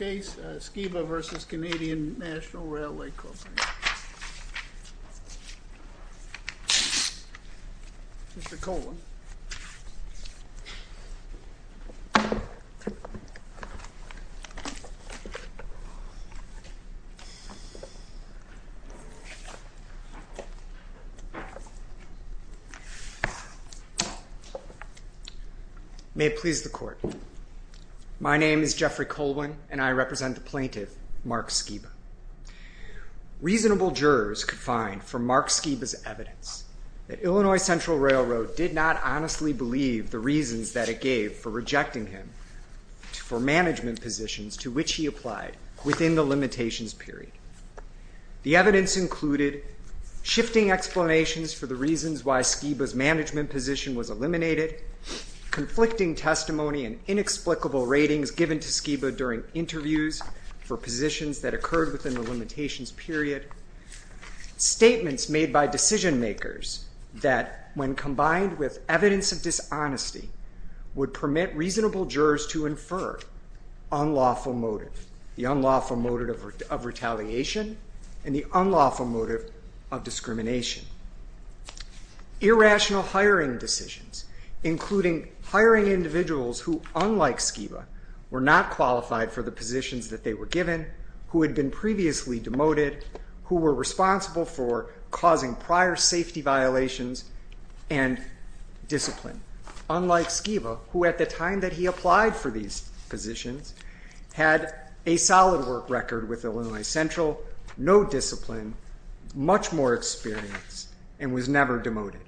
Skiba v. Canadian National Railway Company. Mr. Colwin. May it please the Court. My name is Jeffrey Colwin and I represent the plaintiff, Mark Skiba. Reasonable jurors could find from Mark Skiba's evidence that Illinois Central Railroad did not honestly believe the reasons that it gave for rejecting him for management positions to which he applied within the limitations period. The evidence included shifting explanations for the reasons why Skiba's management position was eliminated, conflicting testimony and inexplicable ratings given to Skiba during interviews for positions that occurred within the limitations period, statements made by decision makers that, when combined with evidence of dishonesty, would permit reasonable jurors to infer unlawful motive, the unlawful motive of retaliation and the unlawful motive of discrimination. Irrational hiring decisions, including hiring individuals who, unlike Skiba, were not qualified for the positions that they were given, who had been previously demoted, who were responsible for causing prior safety violations and discipline. Unlike Skiba, who at the time that he applied for these positions had a solid work record with Illinois Central, no discipline, much more experience and was never demoted.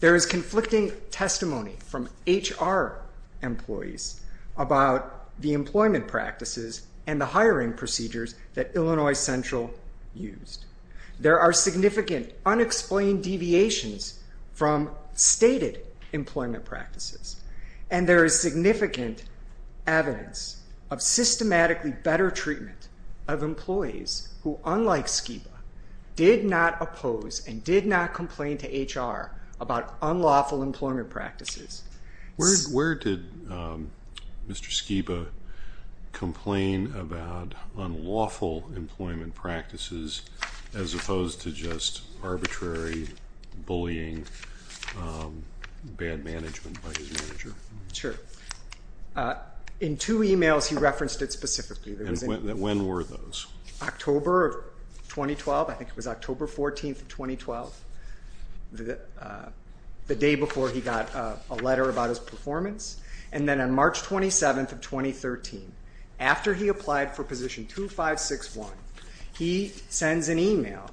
There is conflicting testimony from HR employees about the employment practices and the hiring procedures that Illinois Central used. There are significant unexplained deviations from stated employment practices and there is significant evidence of systematically better treatment of employees who, unlike Skiba, did not oppose and did not complain to HR about unlawful employment practices. Where did Mr. Skiba complain about unlawful employment practices as opposed to just arbitrary bullying, bad management by his manager? Sure. In two emails he referenced it specifically. And when were those? October of 2012, I think it was October 14th of 2012, the day before he got a letter about his performance. And then on March 27th of 2013, after he applied for position 2561, he sends an email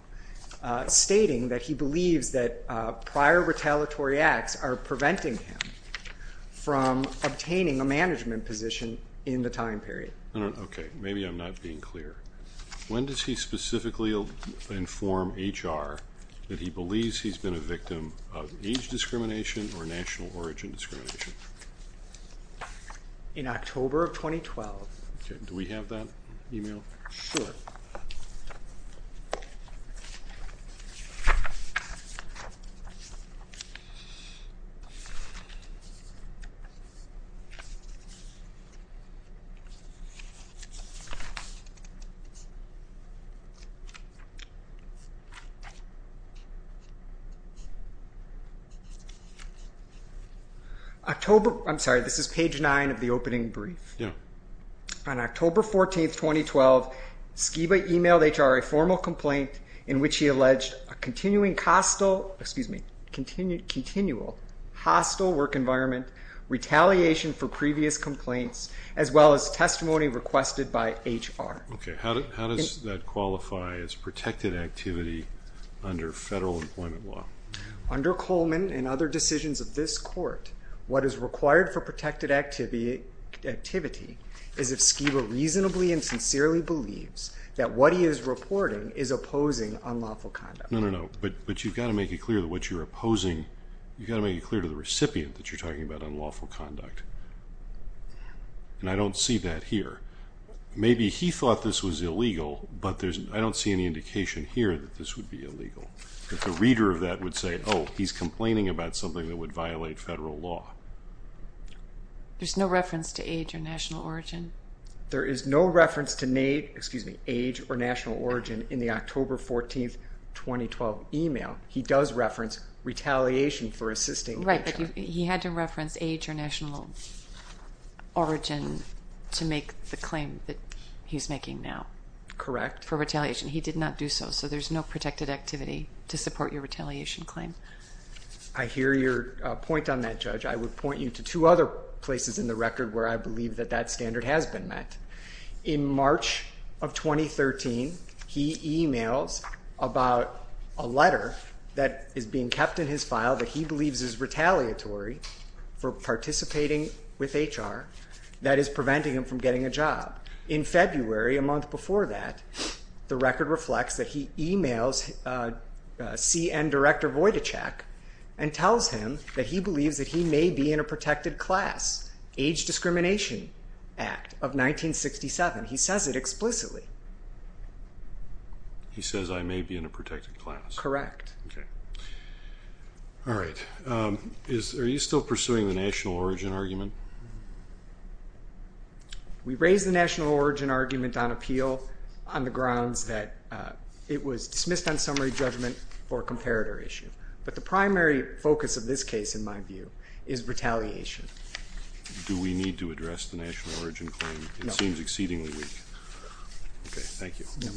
stating that he believes that prior retaliatory acts are preventing him from obtaining a management position in the time period. Okay, maybe I'm not being clear. When does he specifically inform HR that he believes he's been a victim of age discrimination or national origin discrimination? In October of 2012. Okay, do we have that email? Sure. I'm sorry, this is page 9 of the opening brief. Yeah. On October 14th, 2012, Skiba emailed HR a formal complaint in which he alleged a continual hostile work environment, retaliation for previous complaints, as well as testimony requested by HR. Okay, how did he do that? How does that qualify as protected activity under federal employment law? Under Coleman and other decisions of this court, what is required for protected activity is if Skiba reasonably and sincerely believes that what he is reporting is opposing unlawful conduct. No, no, no, but you've got to make it clear that what you're opposing, you've got to make it clear to the recipient that you're talking about unlawful conduct. And I don't see that here. Maybe he thought this was illegal, but I don't see any indication here that this would be illegal, that the reader of that would say, oh, he's complaining about something that would violate federal law. There's no reference to age or national origin? There is no reference to age or national origin in the October 14th, 2012 email. He does reference retaliation for assisting HR. Right, but he had to reference age or national origin to make the claim that he's making now. Correct. For retaliation. He did not do so, so there's no protected activity to support your retaliation claim. I hear your point on that, Judge. I would point you to two other places in the record where I believe that that standard has been met. In March of 2013, he emails about a letter that is being kept in his file that he believes is retaliatory for participating with HR, that is preventing him from getting a job. In February, a month before that, the record reflects that he emails C.N. Director Vojtacek and tells him that he believes that he may be in a protected class. Age Discrimination Act of 1967. He says it explicitly. He says I may be in a protected class. Correct. All right. Are you still pursuing the national origin argument? We raised the national origin argument on appeal on the grounds that it was dismissed on summary judgment for a comparator issue, but the primary focus of this case, in my view, is retaliation. Do we need to address the national origin claim? No. It seems exceedingly weak. Okay, thank you. No.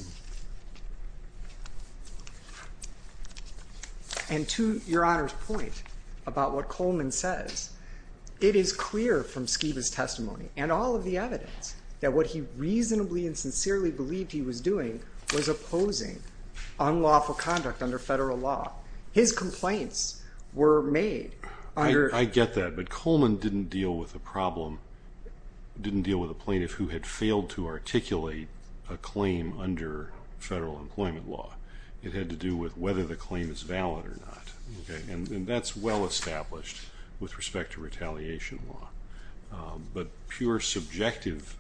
And to Your Honor's point about what Coleman says, it is clear from Skiba's testimony and all of the evidence that what he reasonably and sincerely believed he was doing was opposing unlawful conduct under federal law. His complaints were made under... I get that, but Coleman didn't deal with a problem, didn't deal with a plaintiff who had failed to articulate a claim under federal employment law. It had to do with whether the claim is valid or not. And that's well established with respect to retaliation law. But pure subjective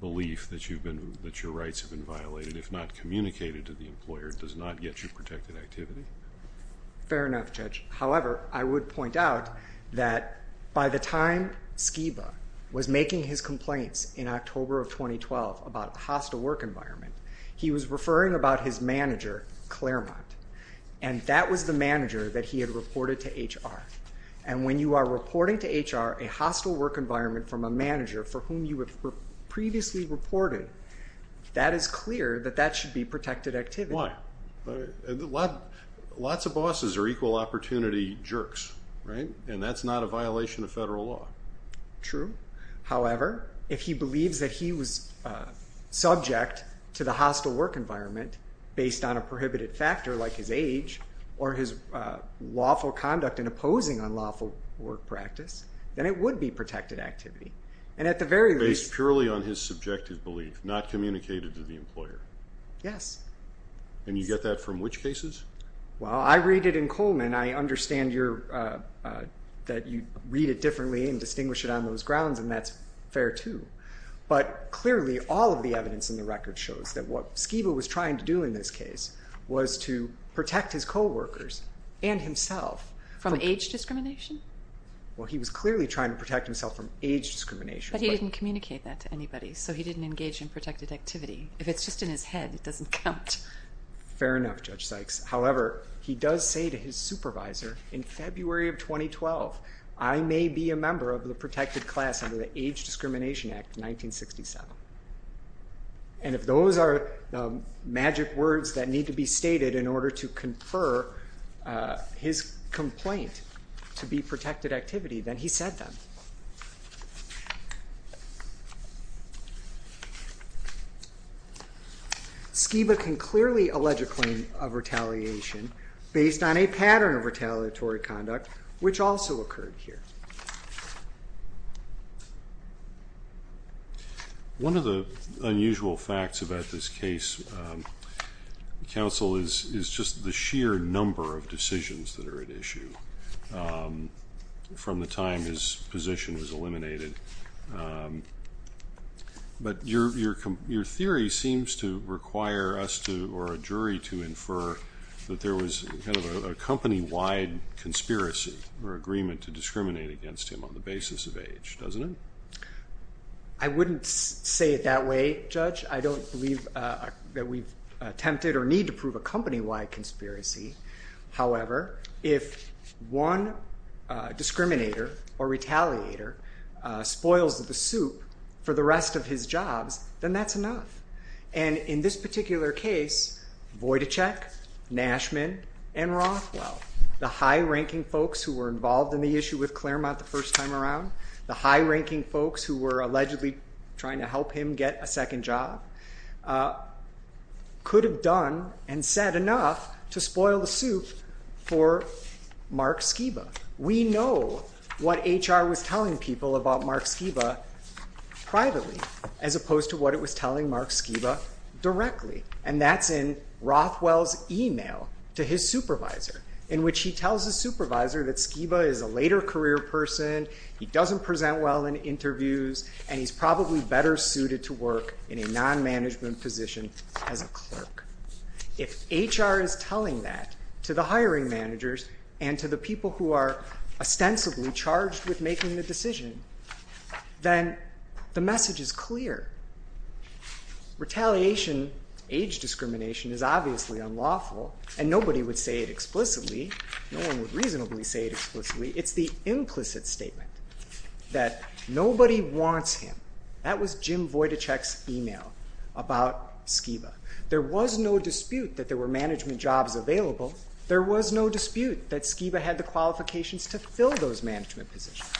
belief that your rights have been violated, if not communicated to the employer, does not get you protected activity? Fair enough, Judge. However, I would point out that by the time Skiba was making his complaints in October of 2012 about a hostile work environment, he was referring about his manager, Claremont. And that was the manager that he had reported to HR. And when you are reporting to HR a hostile work environment from a manager for whom you have previously reported, that is clear that that should be protected activity. Why? Lots of bosses are equal opportunity jerks, right? And that's not a violation of federal law. True. However, if he believes that he was subject to the hostile work environment based on a prohibited factor like his age or his lawful conduct and opposing unlawful work practice, then it would be protected activity. Based purely on his subjective belief, not communicated to the employer? Yes. And you get that from which cases? Well, I read it in Coleman. I understand that you read it differently and distinguish it on those grounds. And that's fair, too. But clearly, all of the evidence in the record shows that what Skiba was trying to do in this case was to protect his co-workers and himself. From age discrimination? Well, he was clearly trying to protect himself from age discrimination. But he didn't communicate that to anybody. So he didn't engage in protected activity. If it's just in his head, it doesn't count. Fair enough, Judge Sykes. However, he does say to his supervisor in February of 2012, I may be a member of the protected class under the Age Discrimination Act of 1967. And if those are magic words that need to be stated in order to confer his complaint to be protected activity, then he said them. Skiba can clearly allege a claim of retaliation based on a pattern of retaliatory conduct which also occurred here. One of the unusual facts about this case, counsel, is just the sheer number of decisions that are at issue from the time his position was eliminated. But your theory seems to require us or a jury to infer that there was kind of a company-wide conspiracy or agreement to discriminate against him on the basis of age, doesn't it? I wouldn't say it that way, Judge. I don't believe that we've attempted or need to prove a company-wide conspiracy. However, if one discriminator or retaliator spoils the soup for the rest of his jobs, then that's enough. And in this particular case, Vojtacek, Nashman, and Rothwell, the high-ranking folks who were involved in the issue with Claremont the first time around, the high-ranking folks who were allegedly trying to help him get a second job, could have done and said enough to spoil the soup for Mark Skiba. We know what HR was telling people about Mark Skiba privately, as opposed to what it was telling Mark Skiba directly. And that's in Rothwell's email to his supervisor, in which he tells his supervisor that Skiba is a later career person, he doesn't present well in interviews, and he's probably better suited to work in a non-management position as a clerk. If HR is telling that to the hiring managers and to the people who are ostensibly charged with making the decision, then the message is clear. Retaliation, age discrimination, is obviously unlawful, and nobody would say it explicitly. No one would reasonably say it explicitly. It's the implicit statement that nobody wants him. That was Jim Vojtacek's email about Skiba. There was no dispute that there were management jobs available. There was no dispute that Skiba had the qualifications to fill those management positions.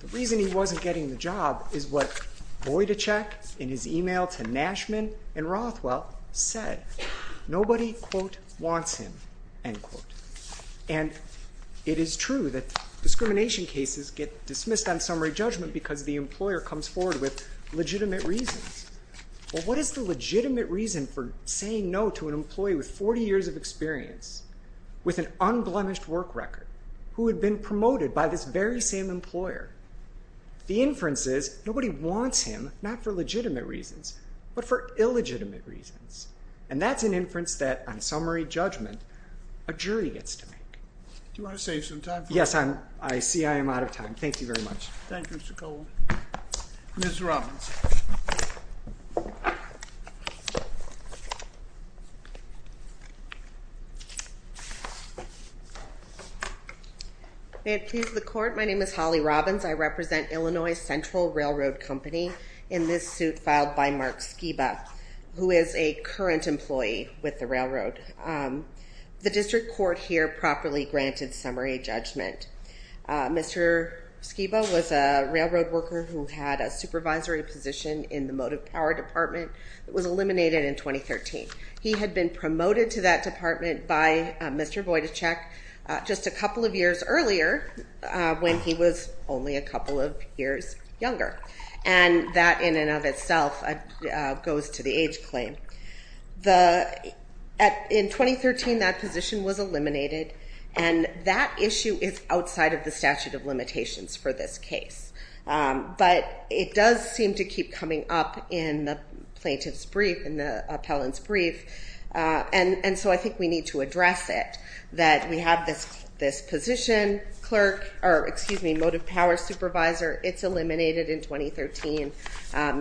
The reason he wasn't getting the job is what Vojtacek, in his email to Nashman and Rothwell, said. Nobody, quote, wants him, end quote. And it is true that discrimination cases get dismissed on summary judgment because the employer comes forward with legitimate reasons. Well, what is the legitimate reason for saying no to an employee with 40 years of experience, with an unblemished work record, who had been promoted by this very same employer? The inference is nobody wants him, not for legitimate reasons, but for illegitimate reasons. And that's an inference that, on summary judgment, a jury gets to make. Do you want to save some time for us? Yes, I see I am out of time. Thank you very much. Thank you, Mr. Cole. Ms. Robbins. May it please the Court, my name is Holly Robbins. I represent Illinois Central Railroad Company in this suit filed by Mark Skiba, who is a current employee with the railroad. The district court here properly granted summary judgment. Mr. Skiba was a railroad worker who had a supervisory position in the motive power department that was eliminated in 2013. He had been promoted to that department by Mr. Vojtacek just a couple of years earlier, when he was only a couple of years younger. And that, in and of itself, goes to the age claim. In 2013, that position was eliminated, and that issue is outside of the statute of limitations for this case. But it does seem to keep coming up in the plaintiff's brief, in the appellant's brief, and so I think we need to address it, because we have this position, motive power supervisor, it's eliminated in 2013.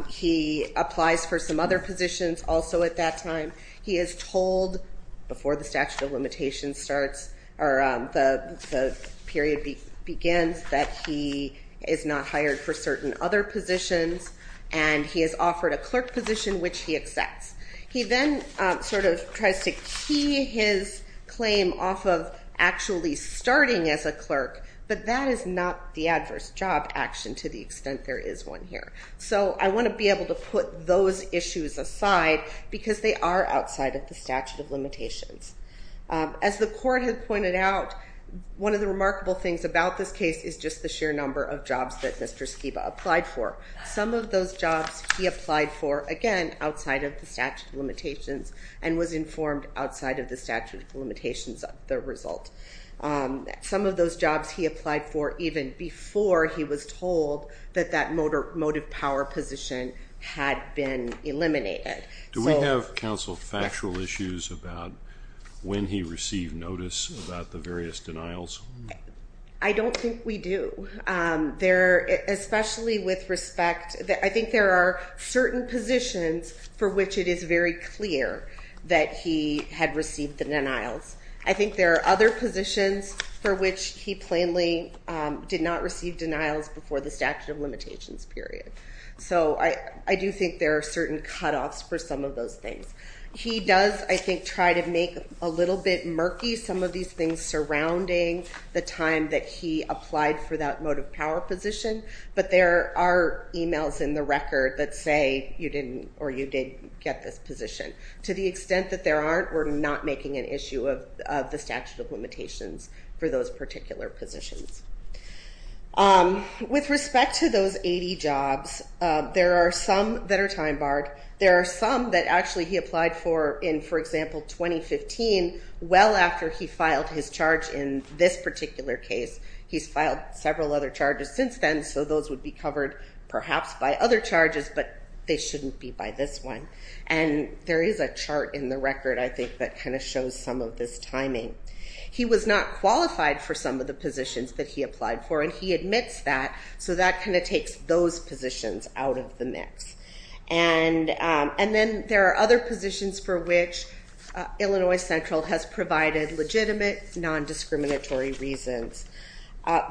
He applies for some other positions also at that time. He is told, before the statute of limitations starts, or the period begins, that he is not hired for certain other positions, and he is offered a clerk position, which he accepts. He then sort of tries to key his claim off of actually starting as a clerk, but that is not the adverse job action to the extent there is one here. So I want to be able to put those issues aside, because they are outside of the statute of limitations. As the court had pointed out, one of the remarkable things about this case is just the sheer number of jobs that Mr. Skiba applied for. Some of those jobs he applied for, again, outside of the statute of limitations, and was informed outside of the statute of limitations of the result. Some of those jobs he applied for even before he was told that that motive power position had been eliminated. Do we have, counsel, factual issues about when he received notice about the various denials? I don't think we do. Especially with respect, I think there are certain positions for which it is very clear that he had received the denials. I think there are other positions for which he plainly did not receive denials before the statute of limitations period. So I do think there are certain cutoffs for some of those things. He does, I think, try to make a little bit murky some of these things surrounding the time that he applied for that motive power position, but there are emails in the record that say you didn't or you did get this position. To the extent that there aren't, we're not making an issue of the statute of limitations for those particular positions. With respect to those 80 jobs, there are some that are time barred. There are some that actually he applied for in, for example, 2015, well after he filed his charge in this particular case. He's filed several other charges since then, so those would be covered perhaps by other charges, but they shouldn't be by this one. And there is a chart in the record, I think, that kind of shows some of this timing. He was not qualified for some of the positions that he applied for, and he admits that, so that kind of takes those positions out of the mix. And then there are other positions for which Illinois Central has provided legitimate non-discriminatory reasons.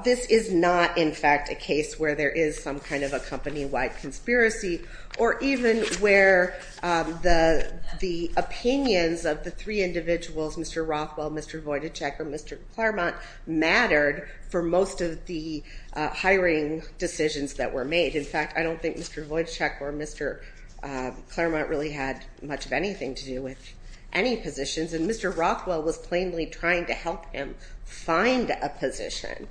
This is not, in fact, a case where there is some kind of a company-wide conspiracy, or even where the opinions of the three individuals, Mr. Rothwell, Mr. Vojtacek, or Mr. Claremont, mattered for most of the hiring decisions that were made. In fact, I don't think Mr. Vojtacek or Mr. Claremont really had much of anything to do with any positions, and Mr. Rothwell was plainly trying to help him find a position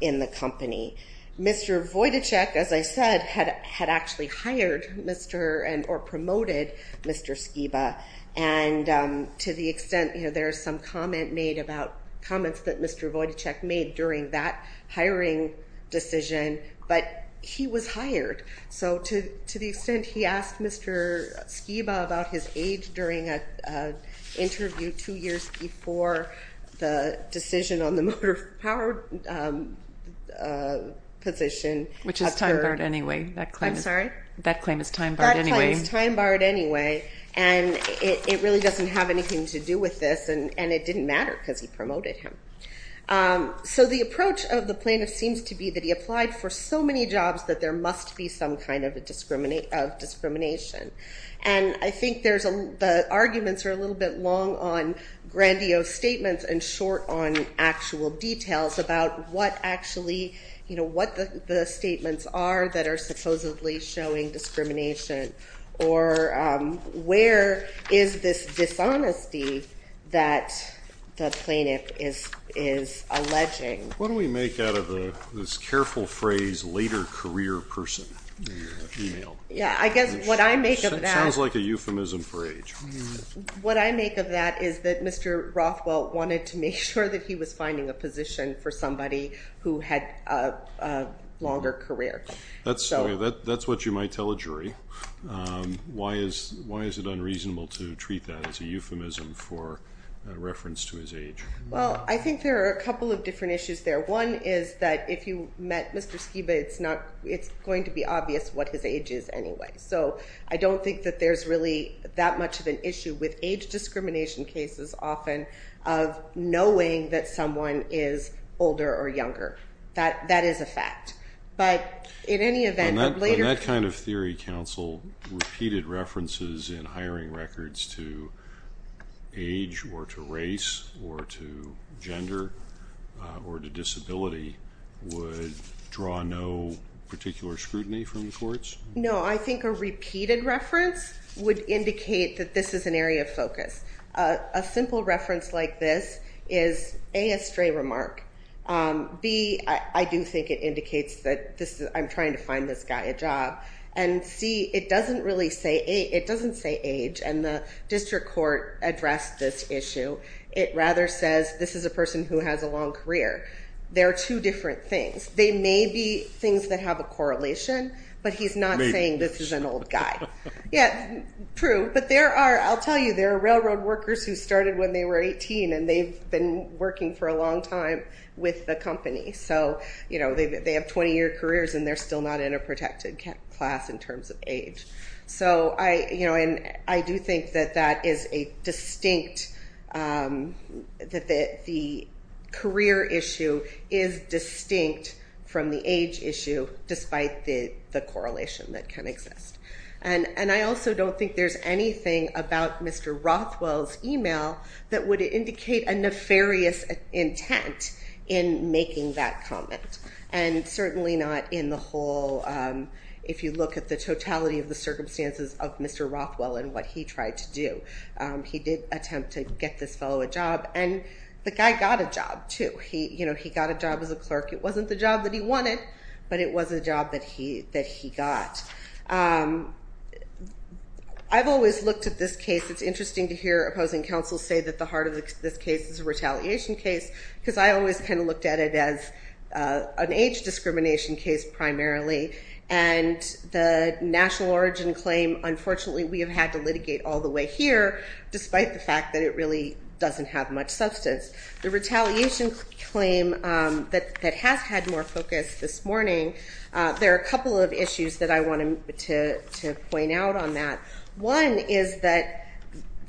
in the company. Mr. Vojtacek, as I said, had actually hired Mr., or promoted Mr. Skiba, and to the extent, there is some comment made about, comments that Mr. Vojtacek made during that hiring decision, but he was hired. So to the extent he asked Mr. Skiba about his age during an interview two years before the decision on the motor power position. Which is time-barred anyway. I'm sorry? That claim is time-barred anyway. That claim is time-barred anyway, and it really doesn't have anything to do with this, and it didn't matter because he promoted him. So the approach of the plaintiff seems to be that he applied for so many jobs that there must be some kind of discrimination. And I think the arguments are a little bit long on grandiose statements and short on actual details about what actually, what the statements are that are supposedly showing discrimination, or where is this dishonesty that the plaintiff is alleging. What do we make out of this careful phrase later career person email? Yeah, I guess what I make of that. Sounds like a euphemism for age. What I make of that is that Mr. Rothwell wanted to make sure that he was finding a position for somebody who had a longer career. That's what you might tell a jury. Why is it unreasonable to treat that as a euphemism for a reference to his age? Well, I think there are a couple of different issues there. One is that if you met Mr. Skiba, it's going to be obvious what his age is anyway. So I don't think that there's really that much of an issue with age discrimination cases often of knowing that someone is older or younger. That is a fact. But in any event, later... On that kind of theory, counsel, repeated references in hiring records to age or to race or to gender or to disability would draw no particular scrutiny from the courts? No, I think a repeated reference would indicate that this is an area of focus. A simple reference like this is A, a stray remark. B, I do think it indicates that I'm trying to find this guy a job. And C, it doesn't really say age. District Court addressed this issue. It rather says this is a person who has a long career. There are two different things. They may be things that have a correlation, but he's not saying this is an old guy. Yeah, true. But I'll tell you, there are railroad workers who started when they were 18 and they've been working for a long time with the company. So they have 20-year careers and they're still not in a protected class in terms of age. So I do think that that is a distinct, that the career issue is distinct from the age issue despite the correlation that can exist. And I also don't think there's anything about Mr. Rothwell's email that would indicate a nefarious intent in making that comment. And certainly not in the whole, if you look at the totality of the circumstances of Mr. Rothwell and what he tried to do. He did attempt to get this fellow a job and the guy got a job too. He got a job as a clerk. It wasn't the job that he wanted, but it was a job that he got. I've always looked at this case. It's interesting to hear opposing counsel say that the heart of this case is a retaliation case because I always kind of looked at it as an age discrimination case primarily. And the national origin claim, unfortunately we have had to litigate all the way here despite the fact that it really doesn't have much substance. The retaliation claim that has had more focus this morning, there are a couple of issues that I wanted to point out on that. One is that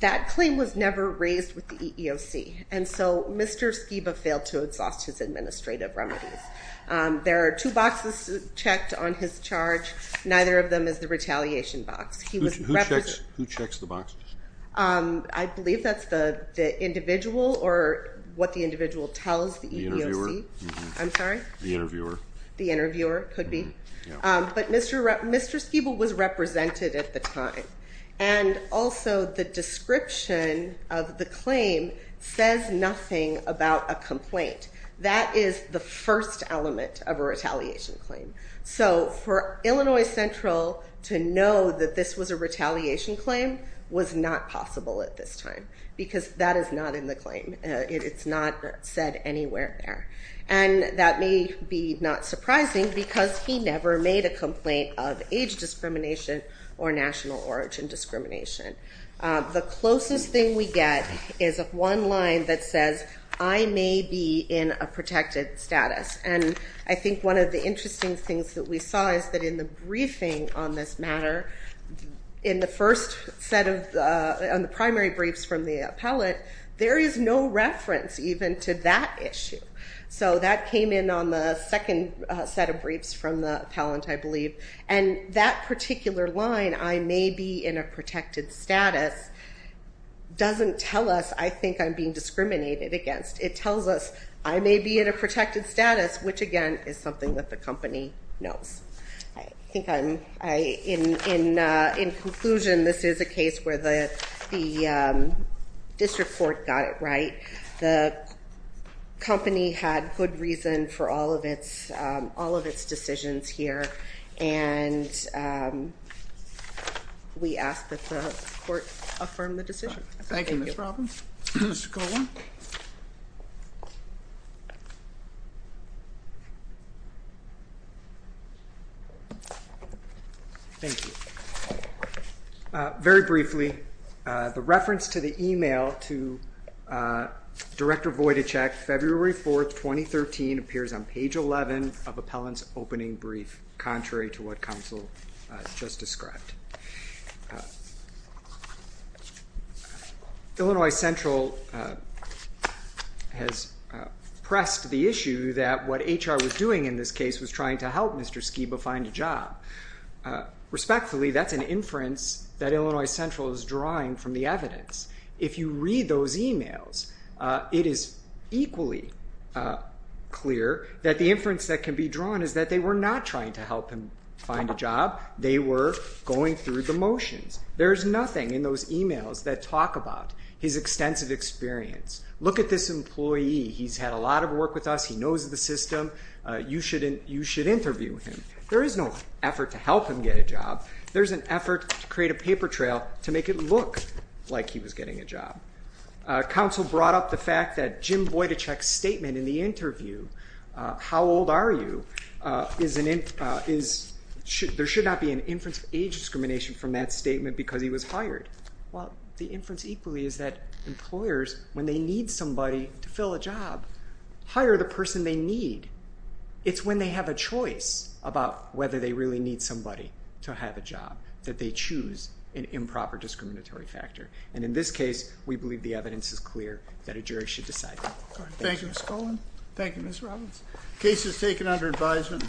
that claim was never raised with the EEOC. And so Mr. Skiba failed to exhaust his administrative remedies. There are two boxes checked on his charge. Neither of them is the retaliation box. Who checks the boxes? I believe that's the individual or what the individual tells the EEOC. The interviewer? I'm sorry? The interviewer. The interviewer, could be. But Mr. Skiba was represented at the time. And also the description of the claim says nothing about a complaint. That is the first element of a retaliation claim. So for Illinois Central to know that this was a retaliation claim was not possible at this time. Because that is not in the claim. It's not said anywhere there. And that may be not surprising because he never made a complaint of age discrimination or national origin discrimination. The closest thing we get is one line that says I may be in a protected status. And I think one of the interesting things that we saw is that in the briefing on this matter, in the first set of, on the primary briefs from the appellate, there is no reference even to that issue. So that came in on the second set of briefs from the appellant, I believe. And that particular line, I may be in a protected status, doesn't tell us I think I was discriminated against. It tells us I may be in a protected status, which again is something that the company knows. I think I'm, in conclusion, this is a case where the district court got it right. The company had good reason for all of its decisions here. And we ask that the court affirm the decision. Thank you. Thank you, Mr. Coburn. Thank you. Very briefly, the reference to the email to Director Vujicic, February 4th, 2013, appears on page 11 of appellant's opening brief, contrary to what counsel just described. Illinois Central has pressed the issue that what HR was doing in this case was trying to help Mr. Skiba find a job. Respectfully, that's an inference that Illinois Central is drawing from the evidence. If you read those emails, it is equally clear that the inference that can be drawn is that they were not trying to help him find a job. They were going through the motions. There is nothing in those emails to talk about his extensive experience. Look at this employee. He's had a lot of work with us. He knows the system. You should interview him. There is no effort to help him get a job. There's an effort to create a paper trail to make it look like he was getting a job. Counsel brought up the fact that Jim Vujicic's statement in the interview, how old are you, there should not be an inference of age discrimination from that statement because he was hired. The inference equally is that employers, when they need somebody to fill a job, hire the person they need. It's when they have a choice about whether they really need somebody to have a job that they choose an improper discriminatory factor. In this case, we believe the evidence is clear that a jury should decide that. Thank you, Ms. Cohen. Thank you, Ms. Robbins. The case is taken under advisement.